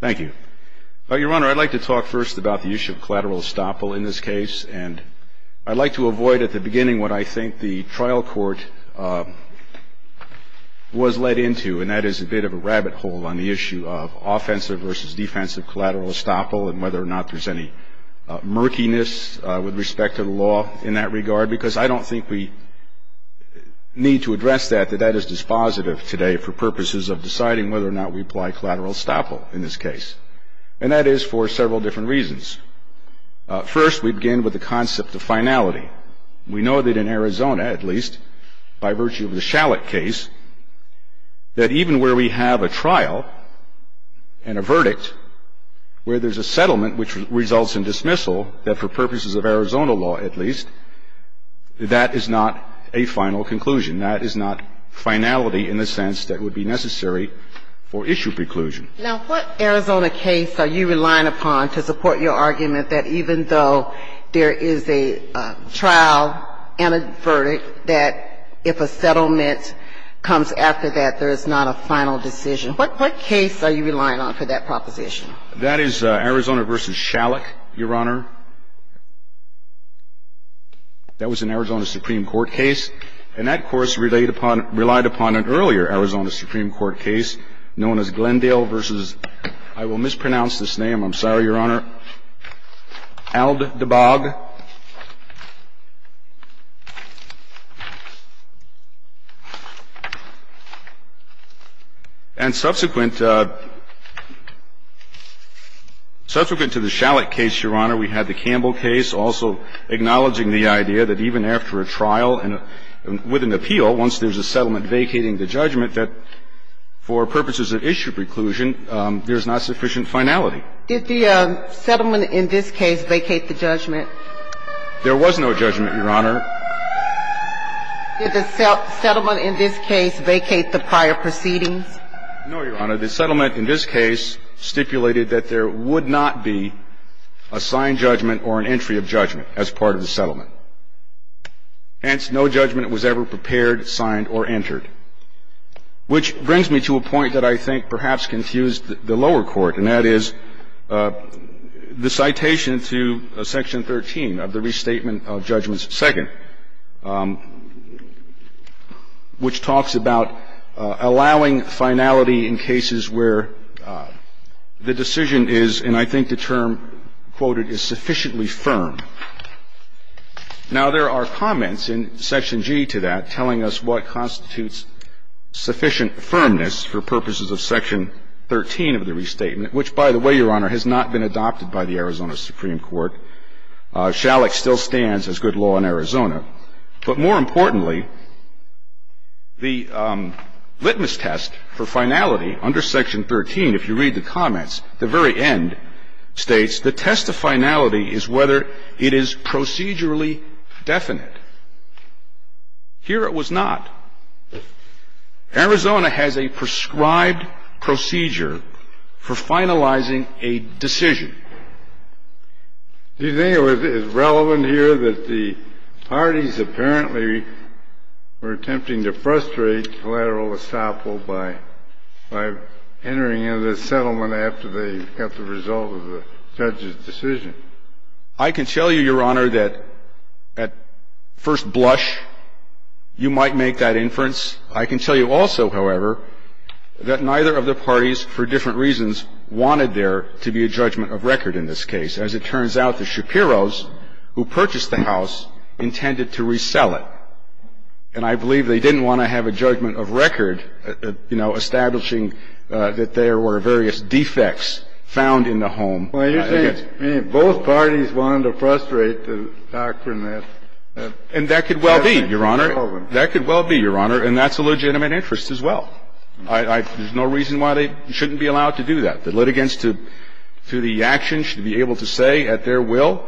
Thank you. Your Honor, I'd like to talk first about the issue of collateral estoppel in this case, and I'd like to avoid at the beginning what I think the trial court was led into, and that is a bit of a rabbit hole on the issue of offensive versus defensive collateral estoppel and whether or not there's any murkiness with respect to the law in that regard, because I don't think we need to address that, that that is dispositive today for purposes of deciding whether or not we apply collateral estoppel in this case. And that is for several different reasons. First, we begin with the concept of finality. We know that in Arizona, at least, by virtue of the Shallot case, that even where we have a trial and a verdict where there's a settlement which results in dismissal, that for purposes of Arizona law, at least, that is not a final conclusion. That is not finality in the sense that would be necessary for issue preclusion. Now, what Arizona case are you relying upon to support your argument that even though there is a trial and a verdict, that if a settlement comes after that, there is not a final decision? What case are you relying on for that proposition? That is Arizona v. Shallot, Your Honor. That was an Arizona Supreme Court case, and that, of course, relied upon an earlier Arizona Supreme Court case known as Glendale v. I will mispronounce this name, I'm sorry, Your Honor, Aldebag, and subsequent to the Shallot case, Your Honor, we had the Campbell case, also acknowledging the idea that even after a trial and with an appeal, once there's a settlement vacating the judgment, that for purposes of issue preclusion, there's not sufficient finality. Did the settlement in this case vacate the judgment? There was no judgment, Your Honor. Did the settlement in this case vacate the prior proceedings? No, Your Honor. The settlement in this case stipulated that there would not be a signed judgment or an entry of judgment as part of the settlement. Hence, no judgment was ever prepared, signed, or entered, which brings me to a point that I think perhaps confused the lower court, and that is the citation to Section 13 of the Restatement of Judgments, second, which talks about allowing final judgment or finality in cases where the decision is, and I think the term quoted, is sufficiently firm. Now, there are comments in Section G to that telling us what constitutes sufficient firmness for purposes of Section 13 of the Restatement, which, by the way, Your Honor, has not been adopted by the Arizona Supreme Court. Shallot still stands as good law in Arizona. But more importantly, the litmus test for finality under Section 13, if you read the comments, at the very end states, the test of finality is whether it is procedurally definite. Here it was not. Arizona has a prescribed procedure for finalizing a decision. Do you think it is relevant here that the parties apparently were attempting to frustrate collateral estoppel by entering into the settlement after they got the result of the judge's decision? I can tell you, Your Honor, that at first blush, you might make that inference. I can tell you also, however, that neither of the parties, for different reasons, wanted there to be a judgment of record in this case. As it turns out, the Shapiros who purchased the house intended to resell it. And I believe they didn't want to have a judgment of record, you know, establishing that there were various defects found in the home. Well, you're saying both parties wanted to frustrate the doctrine that they had in the settlement. And that could well be, Your Honor. And that's a legitimate interest as well. There's no reason why they shouldn't be allowed to do that. The litigants, through the actions, should be able to say at their will,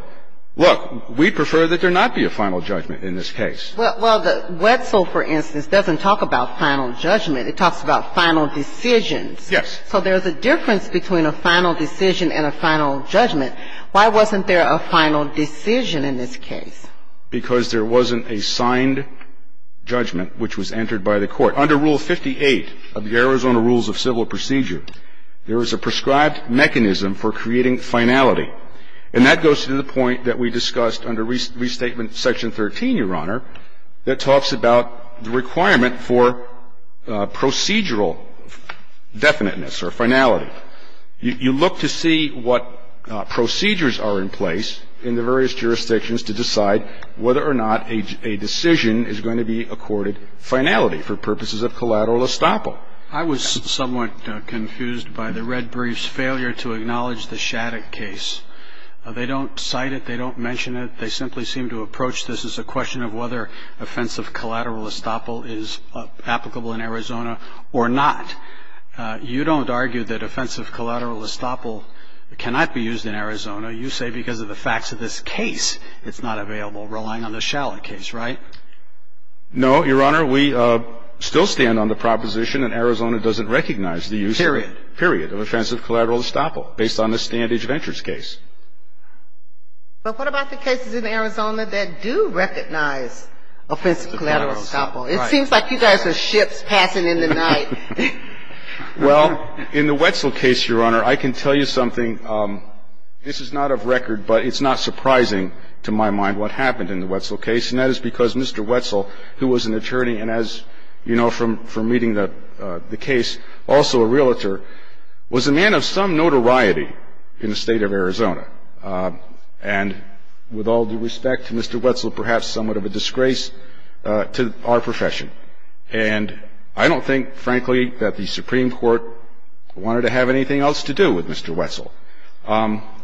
look, we prefer that there not be a final judgment in this case. Well, the Wetzel, for instance, doesn't talk about final judgment. It talks about final decisions. Yes. So there's a difference between a final decision and a final judgment. Why wasn't there a final decision in this case? Because there wasn't a signed judgment which was entered by the Court. Under Rule 58 of the Arizona Rules of Civil Procedure, there is a prescribed mechanism for creating finality. And that goes to the point that we discussed under Restatement Section 13, Your Honor, that talks about the requirement for procedural definiteness or finality. You look to see what procedures are in place in the various jurisdictions to decide whether or not a decision is going to be accorded finality for purposes of collateral estoppel. I was somewhat confused by the red brief's failure to acknowledge the Shattuck case. They don't cite it. They don't mention it. They simply seem to approach this as a question of whether offensive collateral estoppel is applicable in Arizona or not. You don't argue that offensive collateral estoppel cannot be used in Arizona. You say because of the facts of this case, it's not available, relying on the Shattuck case, right? No, Your Honor. We still stand on the proposition that Arizona doesn't recognize the use of it. Period. Period of offensive collateral estoppel based on the Standage Ventures case. But what about the cases in Arizona that do recognize offensive collateral estoppel? It seems like you guys are ships passing in the night. Well, in the Wetzel case, Your Honor, I can tell you something. This is not of record, but it's not surprising to my mind what happened in the Wetzel case, and that is because Mr. Wetzel, who was an attorney and, as you know from reading the case, also a realtor, was a man of some notoriety in the State of Arizona. And with all due respect to Mr. Wetzel, perhaps somewhat of a disgrace to our profession. And I don't think, frankly, that the Supreme Court wanted to have anything else to do with Mr. Wetzel.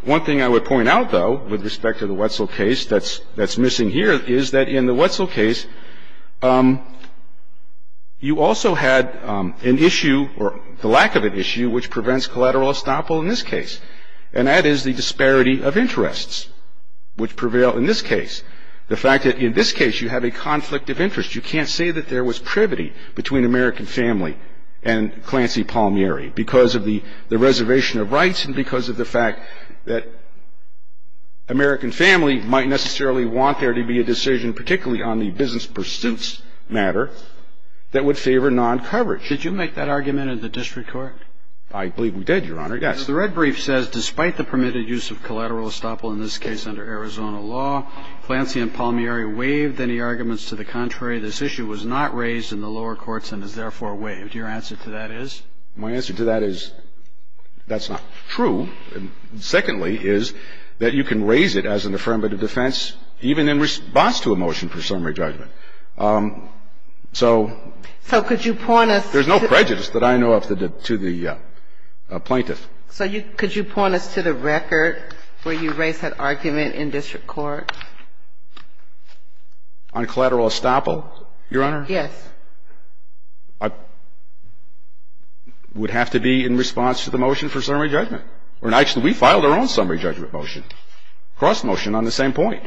One thing I would point out, though, with respect to the Wetzel case that's missing here is that in the Wetzel case, you also had an issue, or the lack of an issue, which prevents collateral estoppel in this case. And that is the disparity of interests, which prevail in this case. The fact that in this case, you have a conflict of interest. You can't say that there was privity between American family and Clancy Palmieri because of the reservation of rights and because of the fact that American family might necessarily want there to be a decision, particularly on the business pursuits matter, that would favor non-coverage. Did you make that argument in the district court? I believe we did, Your Honor. Yes. The red brief says, despite the permitted use of collateral estoppel in this case under Arizona law, Clancy and Palmieri waived any arguments to the contrary. This issue was not raised in the lower courts and is therefore waived. Your answer to that is? My answer to that is that's not true. Secondly is that you can raise it as an affirmative defense even in response to a motion for summary judgment. So could you point us to the record where you raised that argument in district There's no prejudice that I know of to the plaintiff. On collateral estoppel, Your Honor? Yes. It would have to be in response to the motion for summary judgment. Actually, we filed our own summary judgment motion, cross motion on the same point.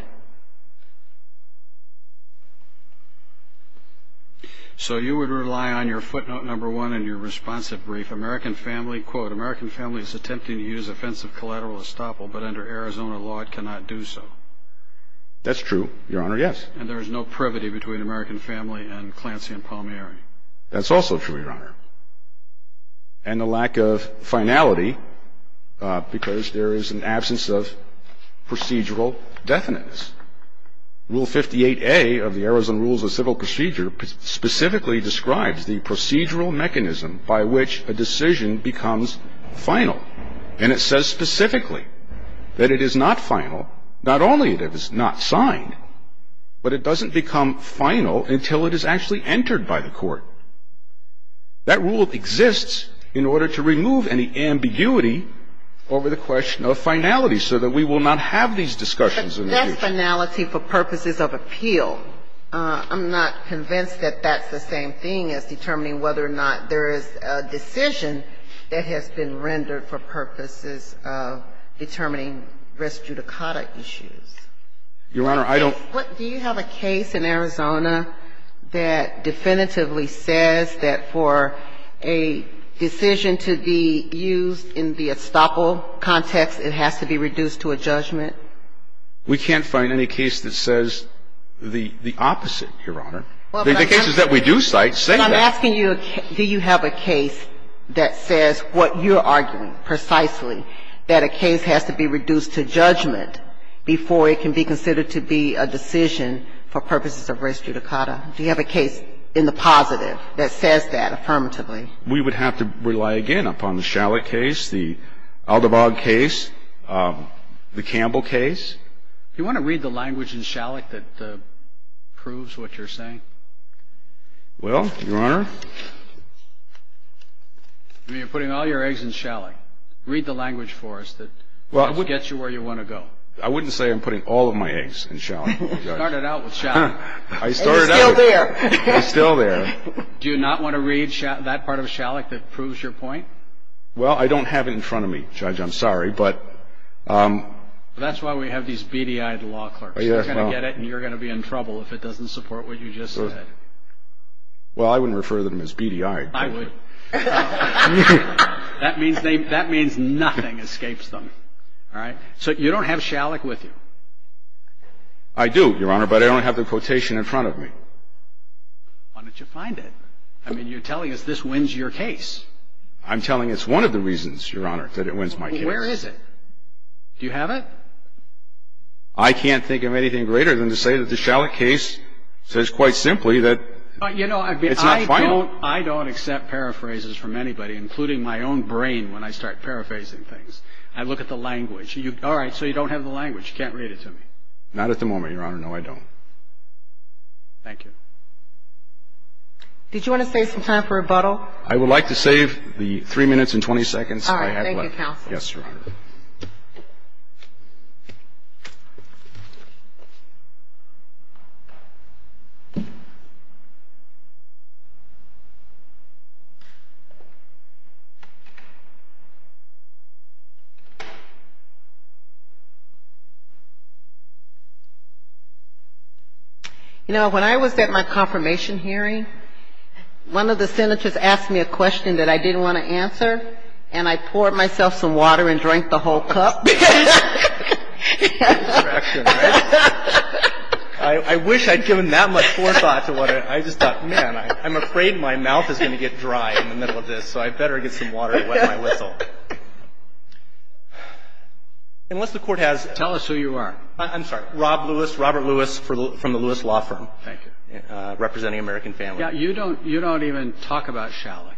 So you would rely on your footnote number one in your responsive brief, American family, quote, American family is attempting to use offensive collateral estoppel, but under Arizona law, it cannot do so. That's true, Your Honor. Yes. And there is no privity between American family and Clancy and Palmieri. That's also true, Your Honor. And the lack of finality because there is an absence of procedural definiteness. Rule 58A of the Arizona Rules of Civil Procedure specifically describes the procedural mechanism by which a decision becomes final. And it says specifically that it is not final, not only that it is not signed, but it doesn't become final until it is actually entered by the court. That rule exists in order to remove any ambiguity over the question of finality so that we will not have these discussions in the future. But that's finality for purposes of appeal. I'm not convinced that that's the same thing as determining whether or not there is a decision that has been rendered for purposes of determining res judicata issues. Your Honor, I don't Do you have a case in Arizona that definitively says that for a decision to be used in the estoppel context, it has to be reduced to a judgment? We can't find any case that says the opposite, Your Honor. The cases that we do cite say that. But I'm asking you, do you have a case that says what you're arguing precisely, that a case has to be reduced to judgment before it can be considered to be a decision for purposes of res judicata? Do you have a case in the positive that says that affirmatively? We would have to rely again upon the Shallack case, the Aldabog case, the Campbell case. Do you want to read the language in Shallack that proves what you're saying? Well, Your Honor. I mean, you're putting all your eggs in Shallack. Read the language for us that gets you where you want to go. I wouldn't say I'm putting all of my eggs in Shallack. You started out with Shallack. I started out. And it's still there. It's still there. Do you not want to read that part of Shallack that proves your point? Well, I don't have it in front of me, Judge. I'm sorry, but. That's why we have these beady-eyed law clerks. They're going to get it, and you're going to be in trouble if it doesn't support what you just said. Well, I wouldn't refer to them as beady-eyed. I would. That means nothing escapes them. All right? So you don't have Shallack with you? I do, Your Honor, but I don't have the quotation in front of me. Why don't you find it? I mean, you're telling us this wins your case. I'm telling it's one of the reasons, Your Honor, that it wins my case. Well, where is it? Do you have it? I can't think of anything greater than to say that the Shallack case says quite simply that it's not final. You know, I don't accept paraphrases from anybody, including my own brain when I start paraphrasing things. I look at the language. All right, so you don't have the language. You can't read it to me. Not at the moment, Your Honor. No, I don't. Thank you. Did you want to save some time for rebuttal? I would like to save the 3 minutes and 20 seconds I have left. All right. You know, when I was at my confirmation hearing, one of the Senators asked me a question that I didn't want to answer, and I poured myself some water and drank the whole cup. I wish I'd given that much forethought to what I just thought. Man, I'm afraid my mouth is going to get dry in the middle of this, so I better get some water to wet my whistle. Let's move on to Shallack. Unless the Court has ---- Tell us who you are. I'm sorry. Rob Lewis, Robert Lewis from the Lewis Law Firm. Thank you. Representing American family. Yeah. You don't even talk about Shallack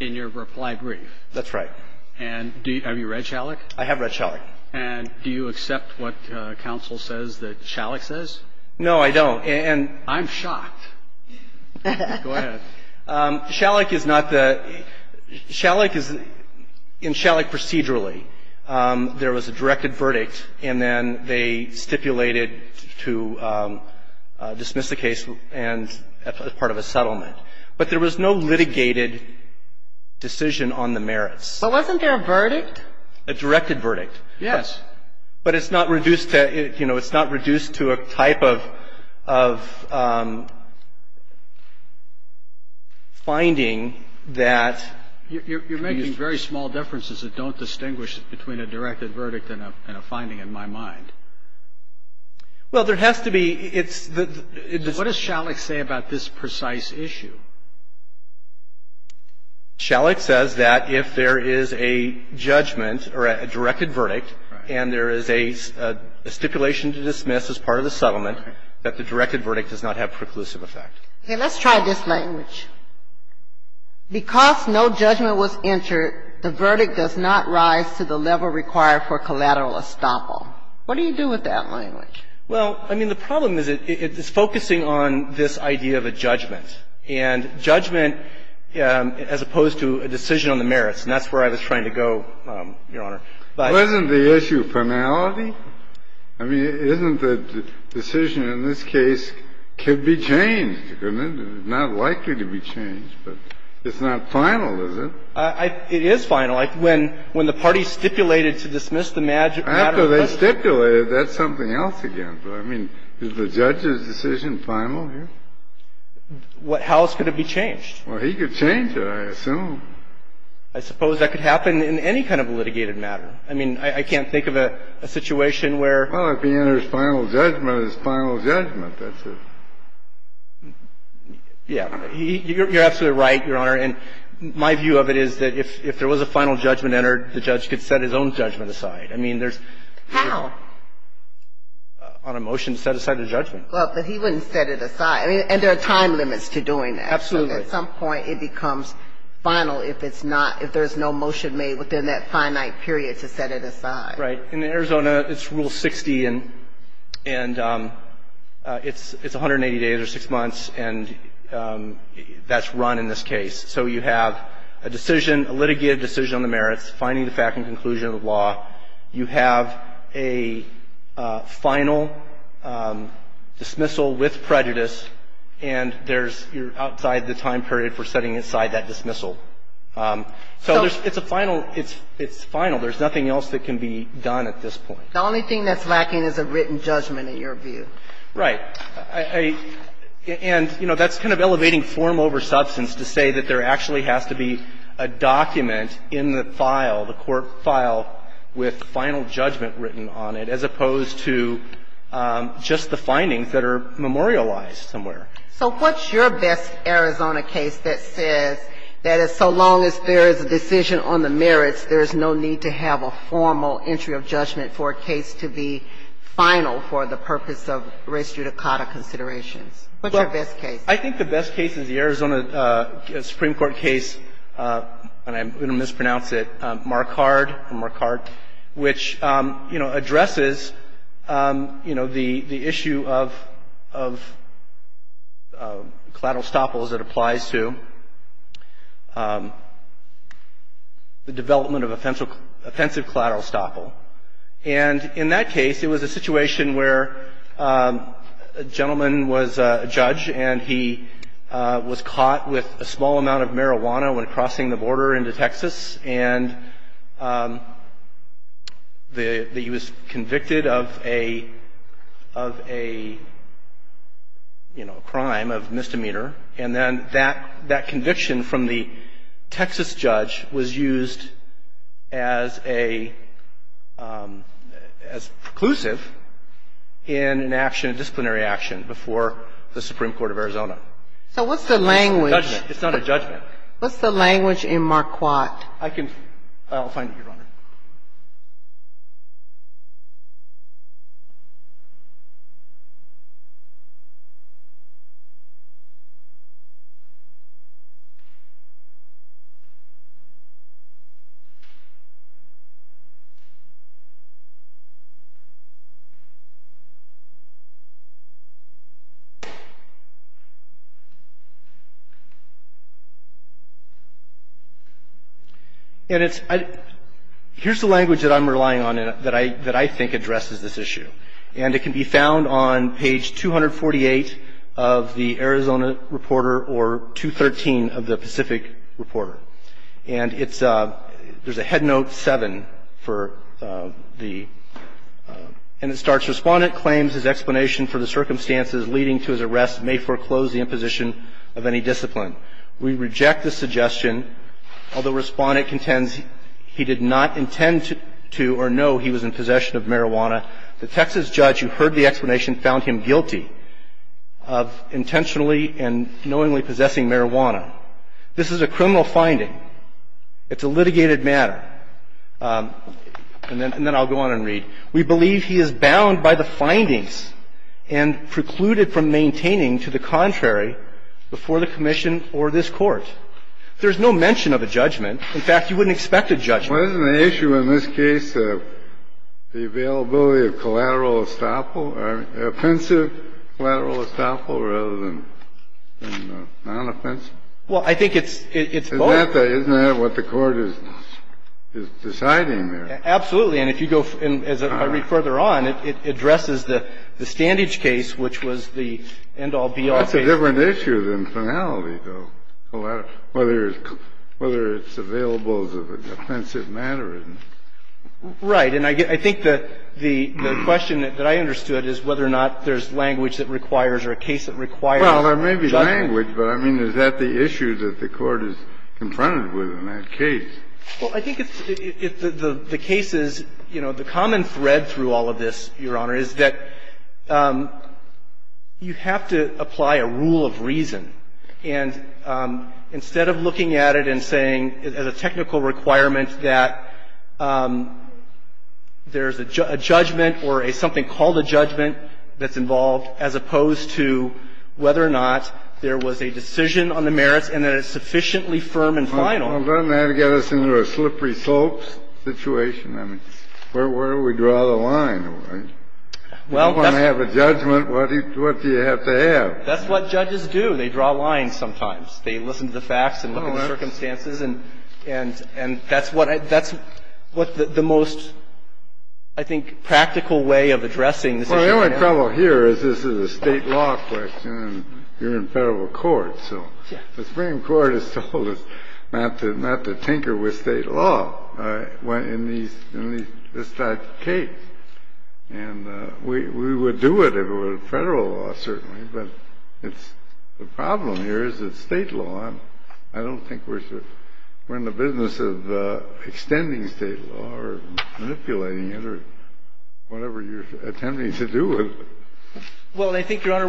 in your reply brief. That's right. And have you read Shallack? I have read Shallack. And do you accept what counsel says that Shallack says? No, I don't. I'm shocked. Go ahead. Shallack is not the ---- In Shallack procedurally, there was a directed verdict, and then they stipulated to dismiss the case as part of a settlement. But there was no litigated decision on the merits. But wasn't there a verdict? A directed verdict. Yes. But it's not reduced to, you know, it's not reduced to a type of finding that ---- You're making very small differences that don't distinguish between a directed verdict and a finding in my mind. Well, there has to be. It's the ---- What does Shallack say about this precise issue? Shallack says that if there is a judgment or a directed verdict and there is a stipulation to dismiss as part of the settlement, that the directed verdict does not have preclusive effect. Okay. Let's try this language. Because no judgment was entered, the verdict does not rise to the level required for collateral estoppel. What do you do with that language? Well, I mean, the problem is it's focusing on this idea of a judgment. And judgment, as opposed to a decision on the merits, and that's where I was trying to go, Your Honor. But ---- Wasn't the issue finality? I mean, isn't the decision in this case could be changed? It's not likely to be changed. But it's not final, is it? It is final. When the parties stipulated to dismiss the matter ---- After they stipulated, that's something else again. I mean, is the judge's decision final here? How else could it be changed? Well, he could change it, I assume. I suppose that could happen in any kind of litigated matter. I mean, I can't think of a situation where ---- Well, if he enters final judgment, it's final judgment. That's a ---- Yeah. You're absolutely right, Your Honor. And my view of it is that if there was a final judgment entered, the judge could set his own judgment aside. I mean, there's ---- How? On a motion to set aside the judgment. Well, but he wouldn't set it aside. I mean, and there are time limits to doing that. Absolutely. At some point, it becomes final if it's not ---- if there's no motion made within that finite period to set it aside. Right. In Arizona, it's Rule 60, and it's 180 days or 6 months, and that's run in this case. So you have a decision, a litigated decision on the merits, finding the fact and conclusion of the law. You have a final dismissal with prejudice, and there's ---- you're outside the time period for setting aside that dismissal. So there's ---- So ---- It's a final ---- it's final. There's nothing else that can be done at this point. The only thing that's lacking is a written judgment, in your view. Right. And, you know, that's kind of elevating form over substance to say that there actually has to be a document in the file, the court file, with final judgment written on it, as opposed to just the findings that are memorialized somewhere. So what's your best Arizona case that says that as long as there is a decision on the merits, there's no need to have a formal entry of judgment for a case to be final for the purpose of res judicata considerations? What's your best case? I think the best case is the Arizona Supreme Court case, and I'm going to mispronounce it, Marquardt, which, you know, addresses, you know, the issue of collateral estoppels that applies to the development of offensive collateral estoppel. And in that case, it was a situation where a gentleman was a judge, and he was caught with a small amount of marijuana when crossing the border into Texas, and he was convicted of a, you know, a crime of misdemeanor. And then that conviction from the Texas judge was used as a preclusive in an action, a disciplinary action before the Supreme Court of Arizona. So what's the language? It's not a judgment. What's the language in Marquardt? I can find it, Your Honor. Thank you. Here's the language that I'm relying on that I think addresses this issue. And it can be found on page 248 of the Arizona Reporter or 213 of the Pacific Reporter. And it's – there's a head note 7 for the – and it starts, Respondent claims his explanation for the circumstances leading to his arrest may foreclose the imposition of any discipline. We reject the suggestion, although Respondent contends he did not intend to or know he was in possession of marijuana. The Texas judge who heard the explanation found him guilty of intentionally and knowingly possessing marijuana. This is a criminal finding. It's a litigated matter. And then I'll go on and read. We believe he is bound by the findings and precluded from maintaining to the contrary before the commission or this Court. There's no mention of a judgment. In fact, you wouldn't expect a judgment. Wasn't the issue in this case the availability of collateral estoppel or offensive collateral estoppel rather than non-offensive? Well, I think it's both. Isn't that what the Court is deciding there? Absolutely. And if you go – and as I read further on, it addresses the Standage case, which was the end-all, be-all case. That's a different issue than finality, though, whether it's available as an offensive matter. Right. And I think the question that I understood is whether or not there's language that requires or a case that requires judgment. Well, there may be language, but, I mean, is that the issue that the Court is confronted with in that case? Well, I think the case is, you know, the common thread through all of this, Your Honor, is that you have to apply a rule of reason. And instead of looking at it and saying as a technical requirement that there's a judgment or something called a judgment that's involved, as opposed to whether or not there was a decision on the merits and that it's sufficiently firm and final. Well, doesn't that get us into a slippery slopes situation? I mean, where do we draw the line? If you want to have a judgment, what do you have to have? That's what judges do. They draw lines sometimes. They listen to the facts and look at the circumstances. And that's what I – that's what the most, I think, practical way of addressing this issue is. Well, the only problem here is this is a State law question, and you're in federal court. So the Supreme Court has told us not to tinker with State law in this type of case. And we would do it if it were Federal law, certainly, but it's – the problem here is that State law, I don't think we're in the business of extending State law or manipulating it or whatever you're attempting to do with it. Well, and I think, Your Honor,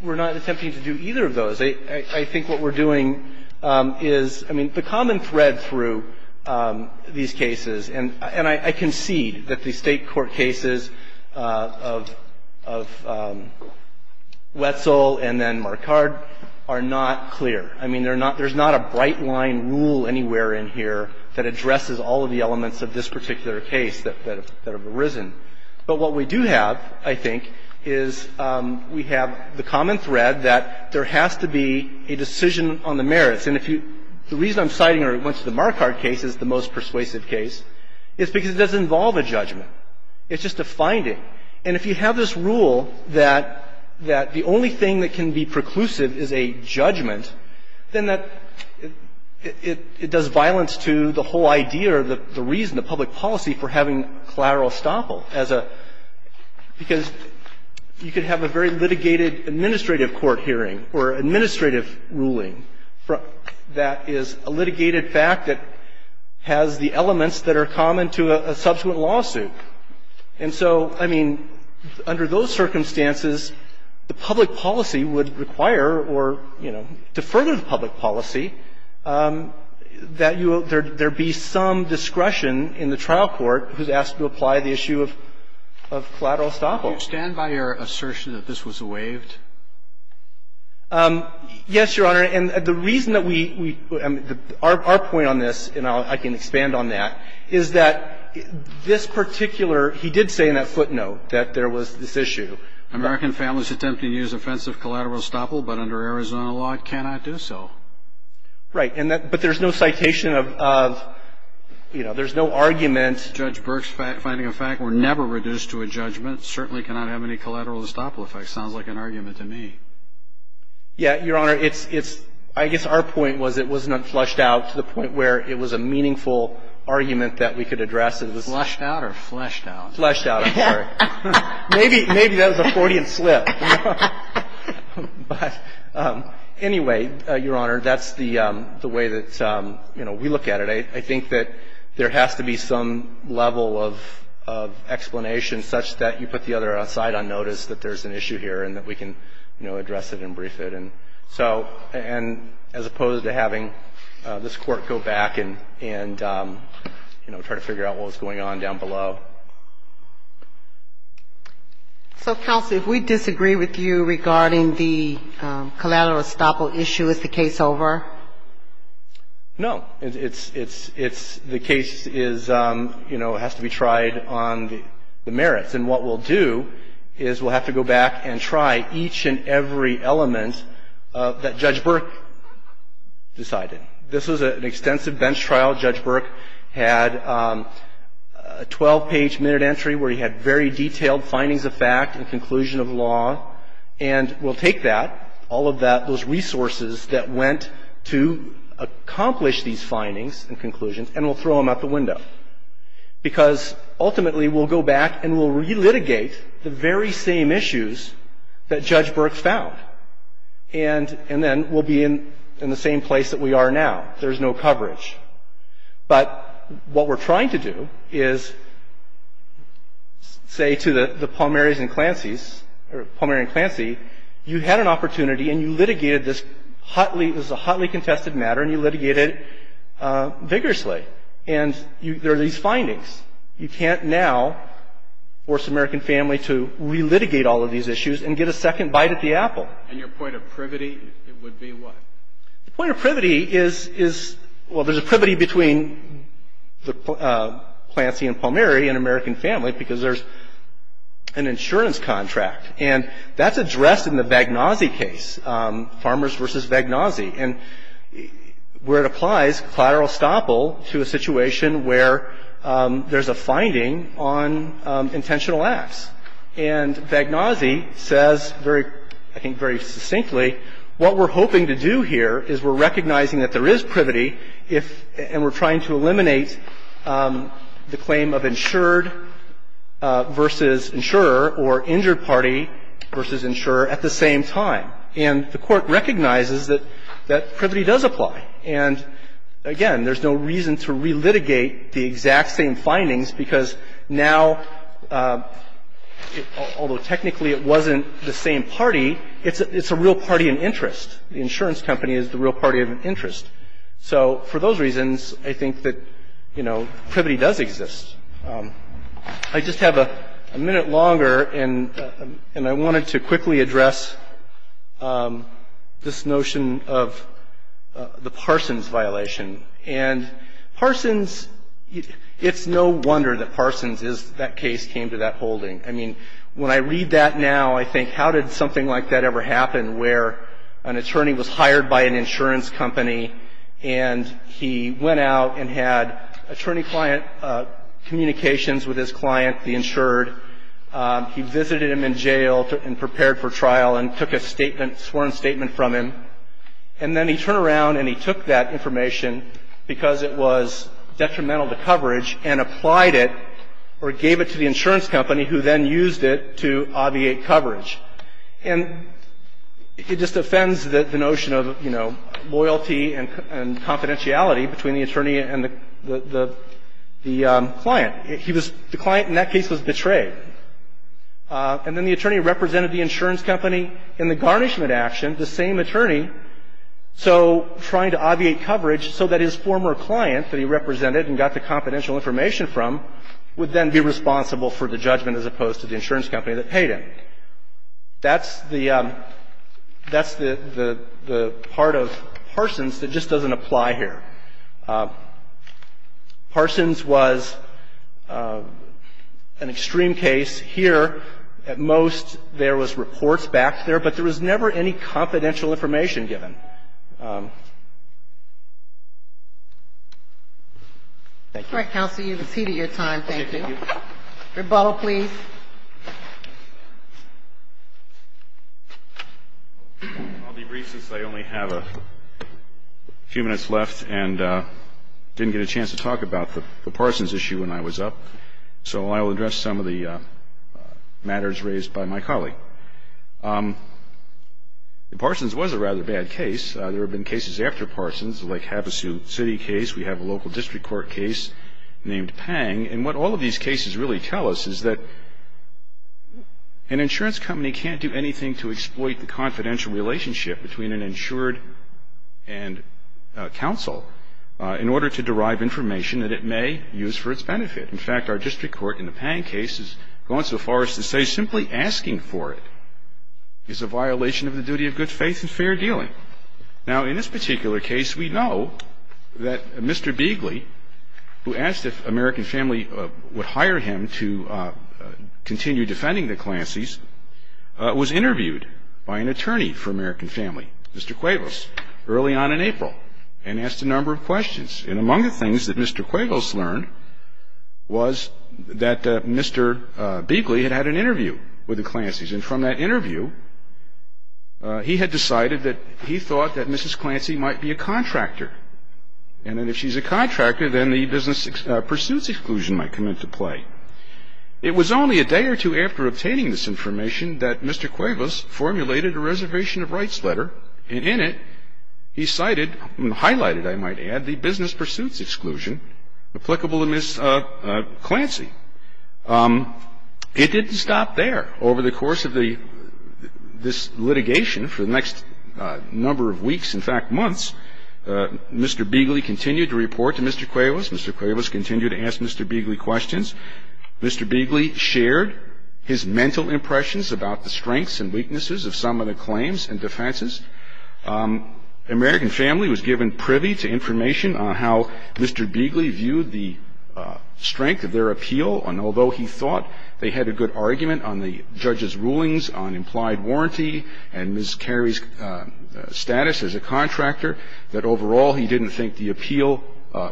we're not attempting to do either of those. I think what we're doing is, I mean, the common thread through these cases, and I concede that the State court cases of Wetzel and then Marcard are not clear. I mean, there's not a bright-line rule anywhere in here that addresses all of the elements of this particular case that have arisen. But what we do have, I think, is we have the common thread that there has to be a decision on the merits. And if you – the reason I'm citing Wetzel and Marcard case as the most persuasive case is because it doesn't involve a judgment. It's just a finding. And if you have this rule that the only thing that can be preclusive is a judgment, then that – it does violence to the whole idea or the reason, the public policy for having collateral estoppel as a – because you could have a very litigated administrative court hearing or administrative ruling that is a litigated fact that has the elements that are common to a subsequent lawsuit. And so, I mean, under those circumstances, the public policy would require or, you know, would require that there be some discretion in the trial court who's asked to apply the issue of collateral estoppel. Can you stand by your assertion that this was waived? Yes, Your Honor. And the reason that we – our point on this, and I can expand on that, is that this particular – he did say in that footnote that there was this issue. American families attempting to use offensive collateral estoppel but under Arizona law cannot do so. Right. But there's no citation of – you know, there's no argument. Judge Burke's finding of fact were never reduced to a judgment, certainly cannot have any collateral estoppel effect. Sounds like an argument to me. Yeah, Your Honor. It's – I guess our point was it wasn't unflushed out to the point where it was a meaningful argument that we could address. Flushed out or fleshed out? Fleshed out, I'm sorry. Maybe that was a Freudian slip. But anyway, Your Honor, that's the way that, you know, we look at it. I think that there has to be some level of explanation such that you put the other side on notice that there's an issue here and that we can, you know, address it and brief it. And so – and as opposed to having this Court go back and, you know, try to figure out what was going on down below. So, counsel, if we disagree with you regarding the collateral estoppel issue, is the case over? No. It's – it's – it's – the case is, you know, has to be tried on the merits. And what we'll do is we'll have to go back and try each and every element that Judge Burke decided. This was an extensive bench trial. Judge Burke had a 12-page minute entry where he had very detailed findings of fact and conclusion of law. And we'll take that, all of that, those resources that went to accomplish these findings and conclusions, and we'll throw them out the window. Because ultimately we'll go back and we'll relitigate the very same issues that Judge Burke found. And then we'll be in the same place that we are now. There's no coverage. But what we're trying to do is say to the Palmieri's and Clancy's – or Palmieri and Clancy, you had an opportunity and you litigated this hotly – this is a hotly contested matter and you litigated it vigorously. And you – there are these findings. You can't now force the American family to relitigate all of these issues and get a second bite at the apple. And your point of privity, it would be what? The point of privity is – well, there's a privity between Clancy and Palmieri, an American family, because there's an insurance contract. And that's addressed in the Vagnozzi case, Farmers v. Vagnozzi, where it applies collateral estoppel to a situation where there's a finding on intentional acts. And Vagnozzi says very – I think very succinctly, what we're hoping to do here is we're recognizing that there is privity if – and we're trying to eliminate the claim of insured v. insurer or injured party v. insurer at the same time. And the Court recognizes that – that privity does apply. And, again, there's no reason to relitigate the exact same findings because now the – although technically it wasn't the same party, it's a real party in interest. The insurance company is the real party of interest. So for those reasons, I think that, you know, privity does exist. I just have a minute longer, and I wanted to quickly address this notion of the Parsons violation. And Parsons – it's no wonder that Parsons is – that case came to that holding. I mean, when I read that now, I think how did something like that ever happen, where an attorney was hired by an insurance company, and he went out and had attorney-client communications with his client, the insured. He visited him in jail and prepared for trial and took a statement – sworn statement from him. And then he turned around and he took that information because it was detrimental to coverage and applied it or gave it to the insurance company who then used it to obviate coverage. And it just offends the notion of, you know, loyalty and confidentiality between the attorney and the client. He was – the client in that case was betrayed. And then the attorney represented the insurance company in the garnishment action, the same attorney, so – trying to obviate coverage so that his former client that he represented and got the confidential information from would then be responsible for the judgment as opposed to the insurance company that paid him. That's the – that's the part of Parsons that just doesn't apply here. Parsons was an extreme case. Here, at most, there was reports back there, but there was never any confidential information given. Thank you. All right, Counselor, you've exceeded your time. Thank you. Thank you. Rebaul, please. I'll be brief since I only have a few minutes left and didn't get a chance to talk about the Parsons issue when I was up. So I will address some of the matters raised by my colleague. The Parsons was a rather bad case. There have been cases after Parsons, the Lake Havasu City case. We have a local district court case named Pang. And what all of these cases really tell us is that an insurance company can't do anything to exploit the confidential relationship between an insured and counsel in order to derive information that it may use for its benefit. In fact, our district court in the Pang case has gone so far as to say simply asking for it is a violation of the duty of good faith and fair dealing. Now, in this particular case, we know that Mr. Beegley, who asked if American Family would hire him to continue defending the Clanceys, was interviewed by an attorney for American Family, Mr. Cuevas, early on in April, and asked a number of questions. And among the things that Mr. Cuevas learned was that Mr. Beegley had had an interview with the Clanceys. And from that interview, he had decided that he thought that Mrs. Clancey might be a contractor. And that if she's a contractor, then the business pursuits exclusion might come into play. It was only a day or two after obtaining this information that Mr. Cuevas formulated a reservation of rights letter. And in it, he cited, highlighted, I might add, the business pursuits exclusion applicable to Mrs. Clancy. It didn't stop there. Over the course of this litigation, for the next number of weeks, in fact, months, Mr. Beegley continued to report to Mr. Cuevas. Mr. Cuevas continued to ask Mr. Beegley questions. Mr. Beegley shared his mental impressions about the strengths and weaknesses of some of the claims and defenses. American Family was given privy to information on how Mr. Beegley viewed the strength of their appeal. And although he thought they had a good argument on the judge's rulings on implied warranty and Ms. Carey's status as a contractor, that overall he didn't think the appeal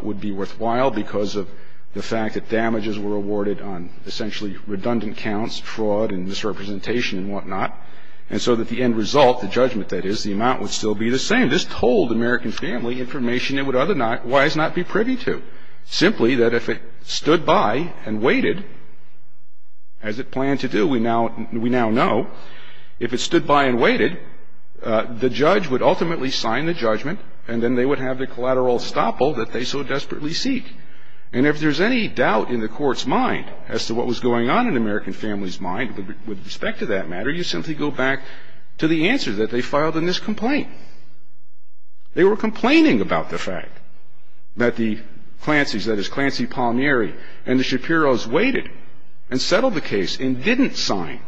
would be worthwhile because of the fact that damages were awarded on essentially redundant counts, fraud and misrepresentation and whatnot. And so that the end result, the judgment that is, the amount would still be the same. This told American Family information it would otherwise not be privy to, simply that if it stood by and waited, as it planned to do, we now know, if it stood by and waited, the judge would ultimately sign the judgment and then they would have the collateral estoppel that they so desperately seek. And if there's any doubt in the Court's mind as to what was going on in American Family's mind with respect to that matter, you simply go back to the answer that they filed in this complaint. They were complaining about the fact that the Clancy's, that is, Clancy, Palmieri and the Shapiros waited and settled the case and didn't sign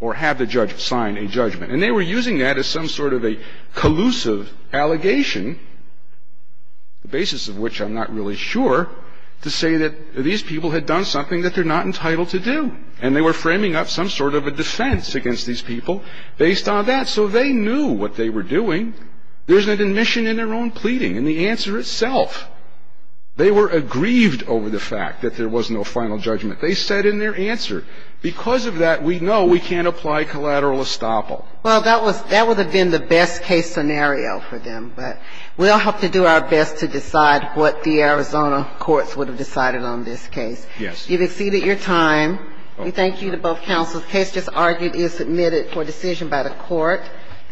or have the judge sign a judgment. And they were using that as some sort of a collusive allegation, the basis of which I'm not really sure, to say that these people had done something that they're not entitled to do. And they were framing up some sort of a defense against these people based on that. So they knew what they were doing. There's an admission in their own pleading and the answer itself. They were aggrieved over the fact that there was no final judgment. They said in their answer, because of that, we know we can't apply collateral estoppel. Well, that would have been the best case scenario for them. But we'll have to do our best to decide what the Arizona courts would have decided on this case. Yes. You've exceeded your time. We thank you to both counsels. The case just argued is submitted for decision by the court.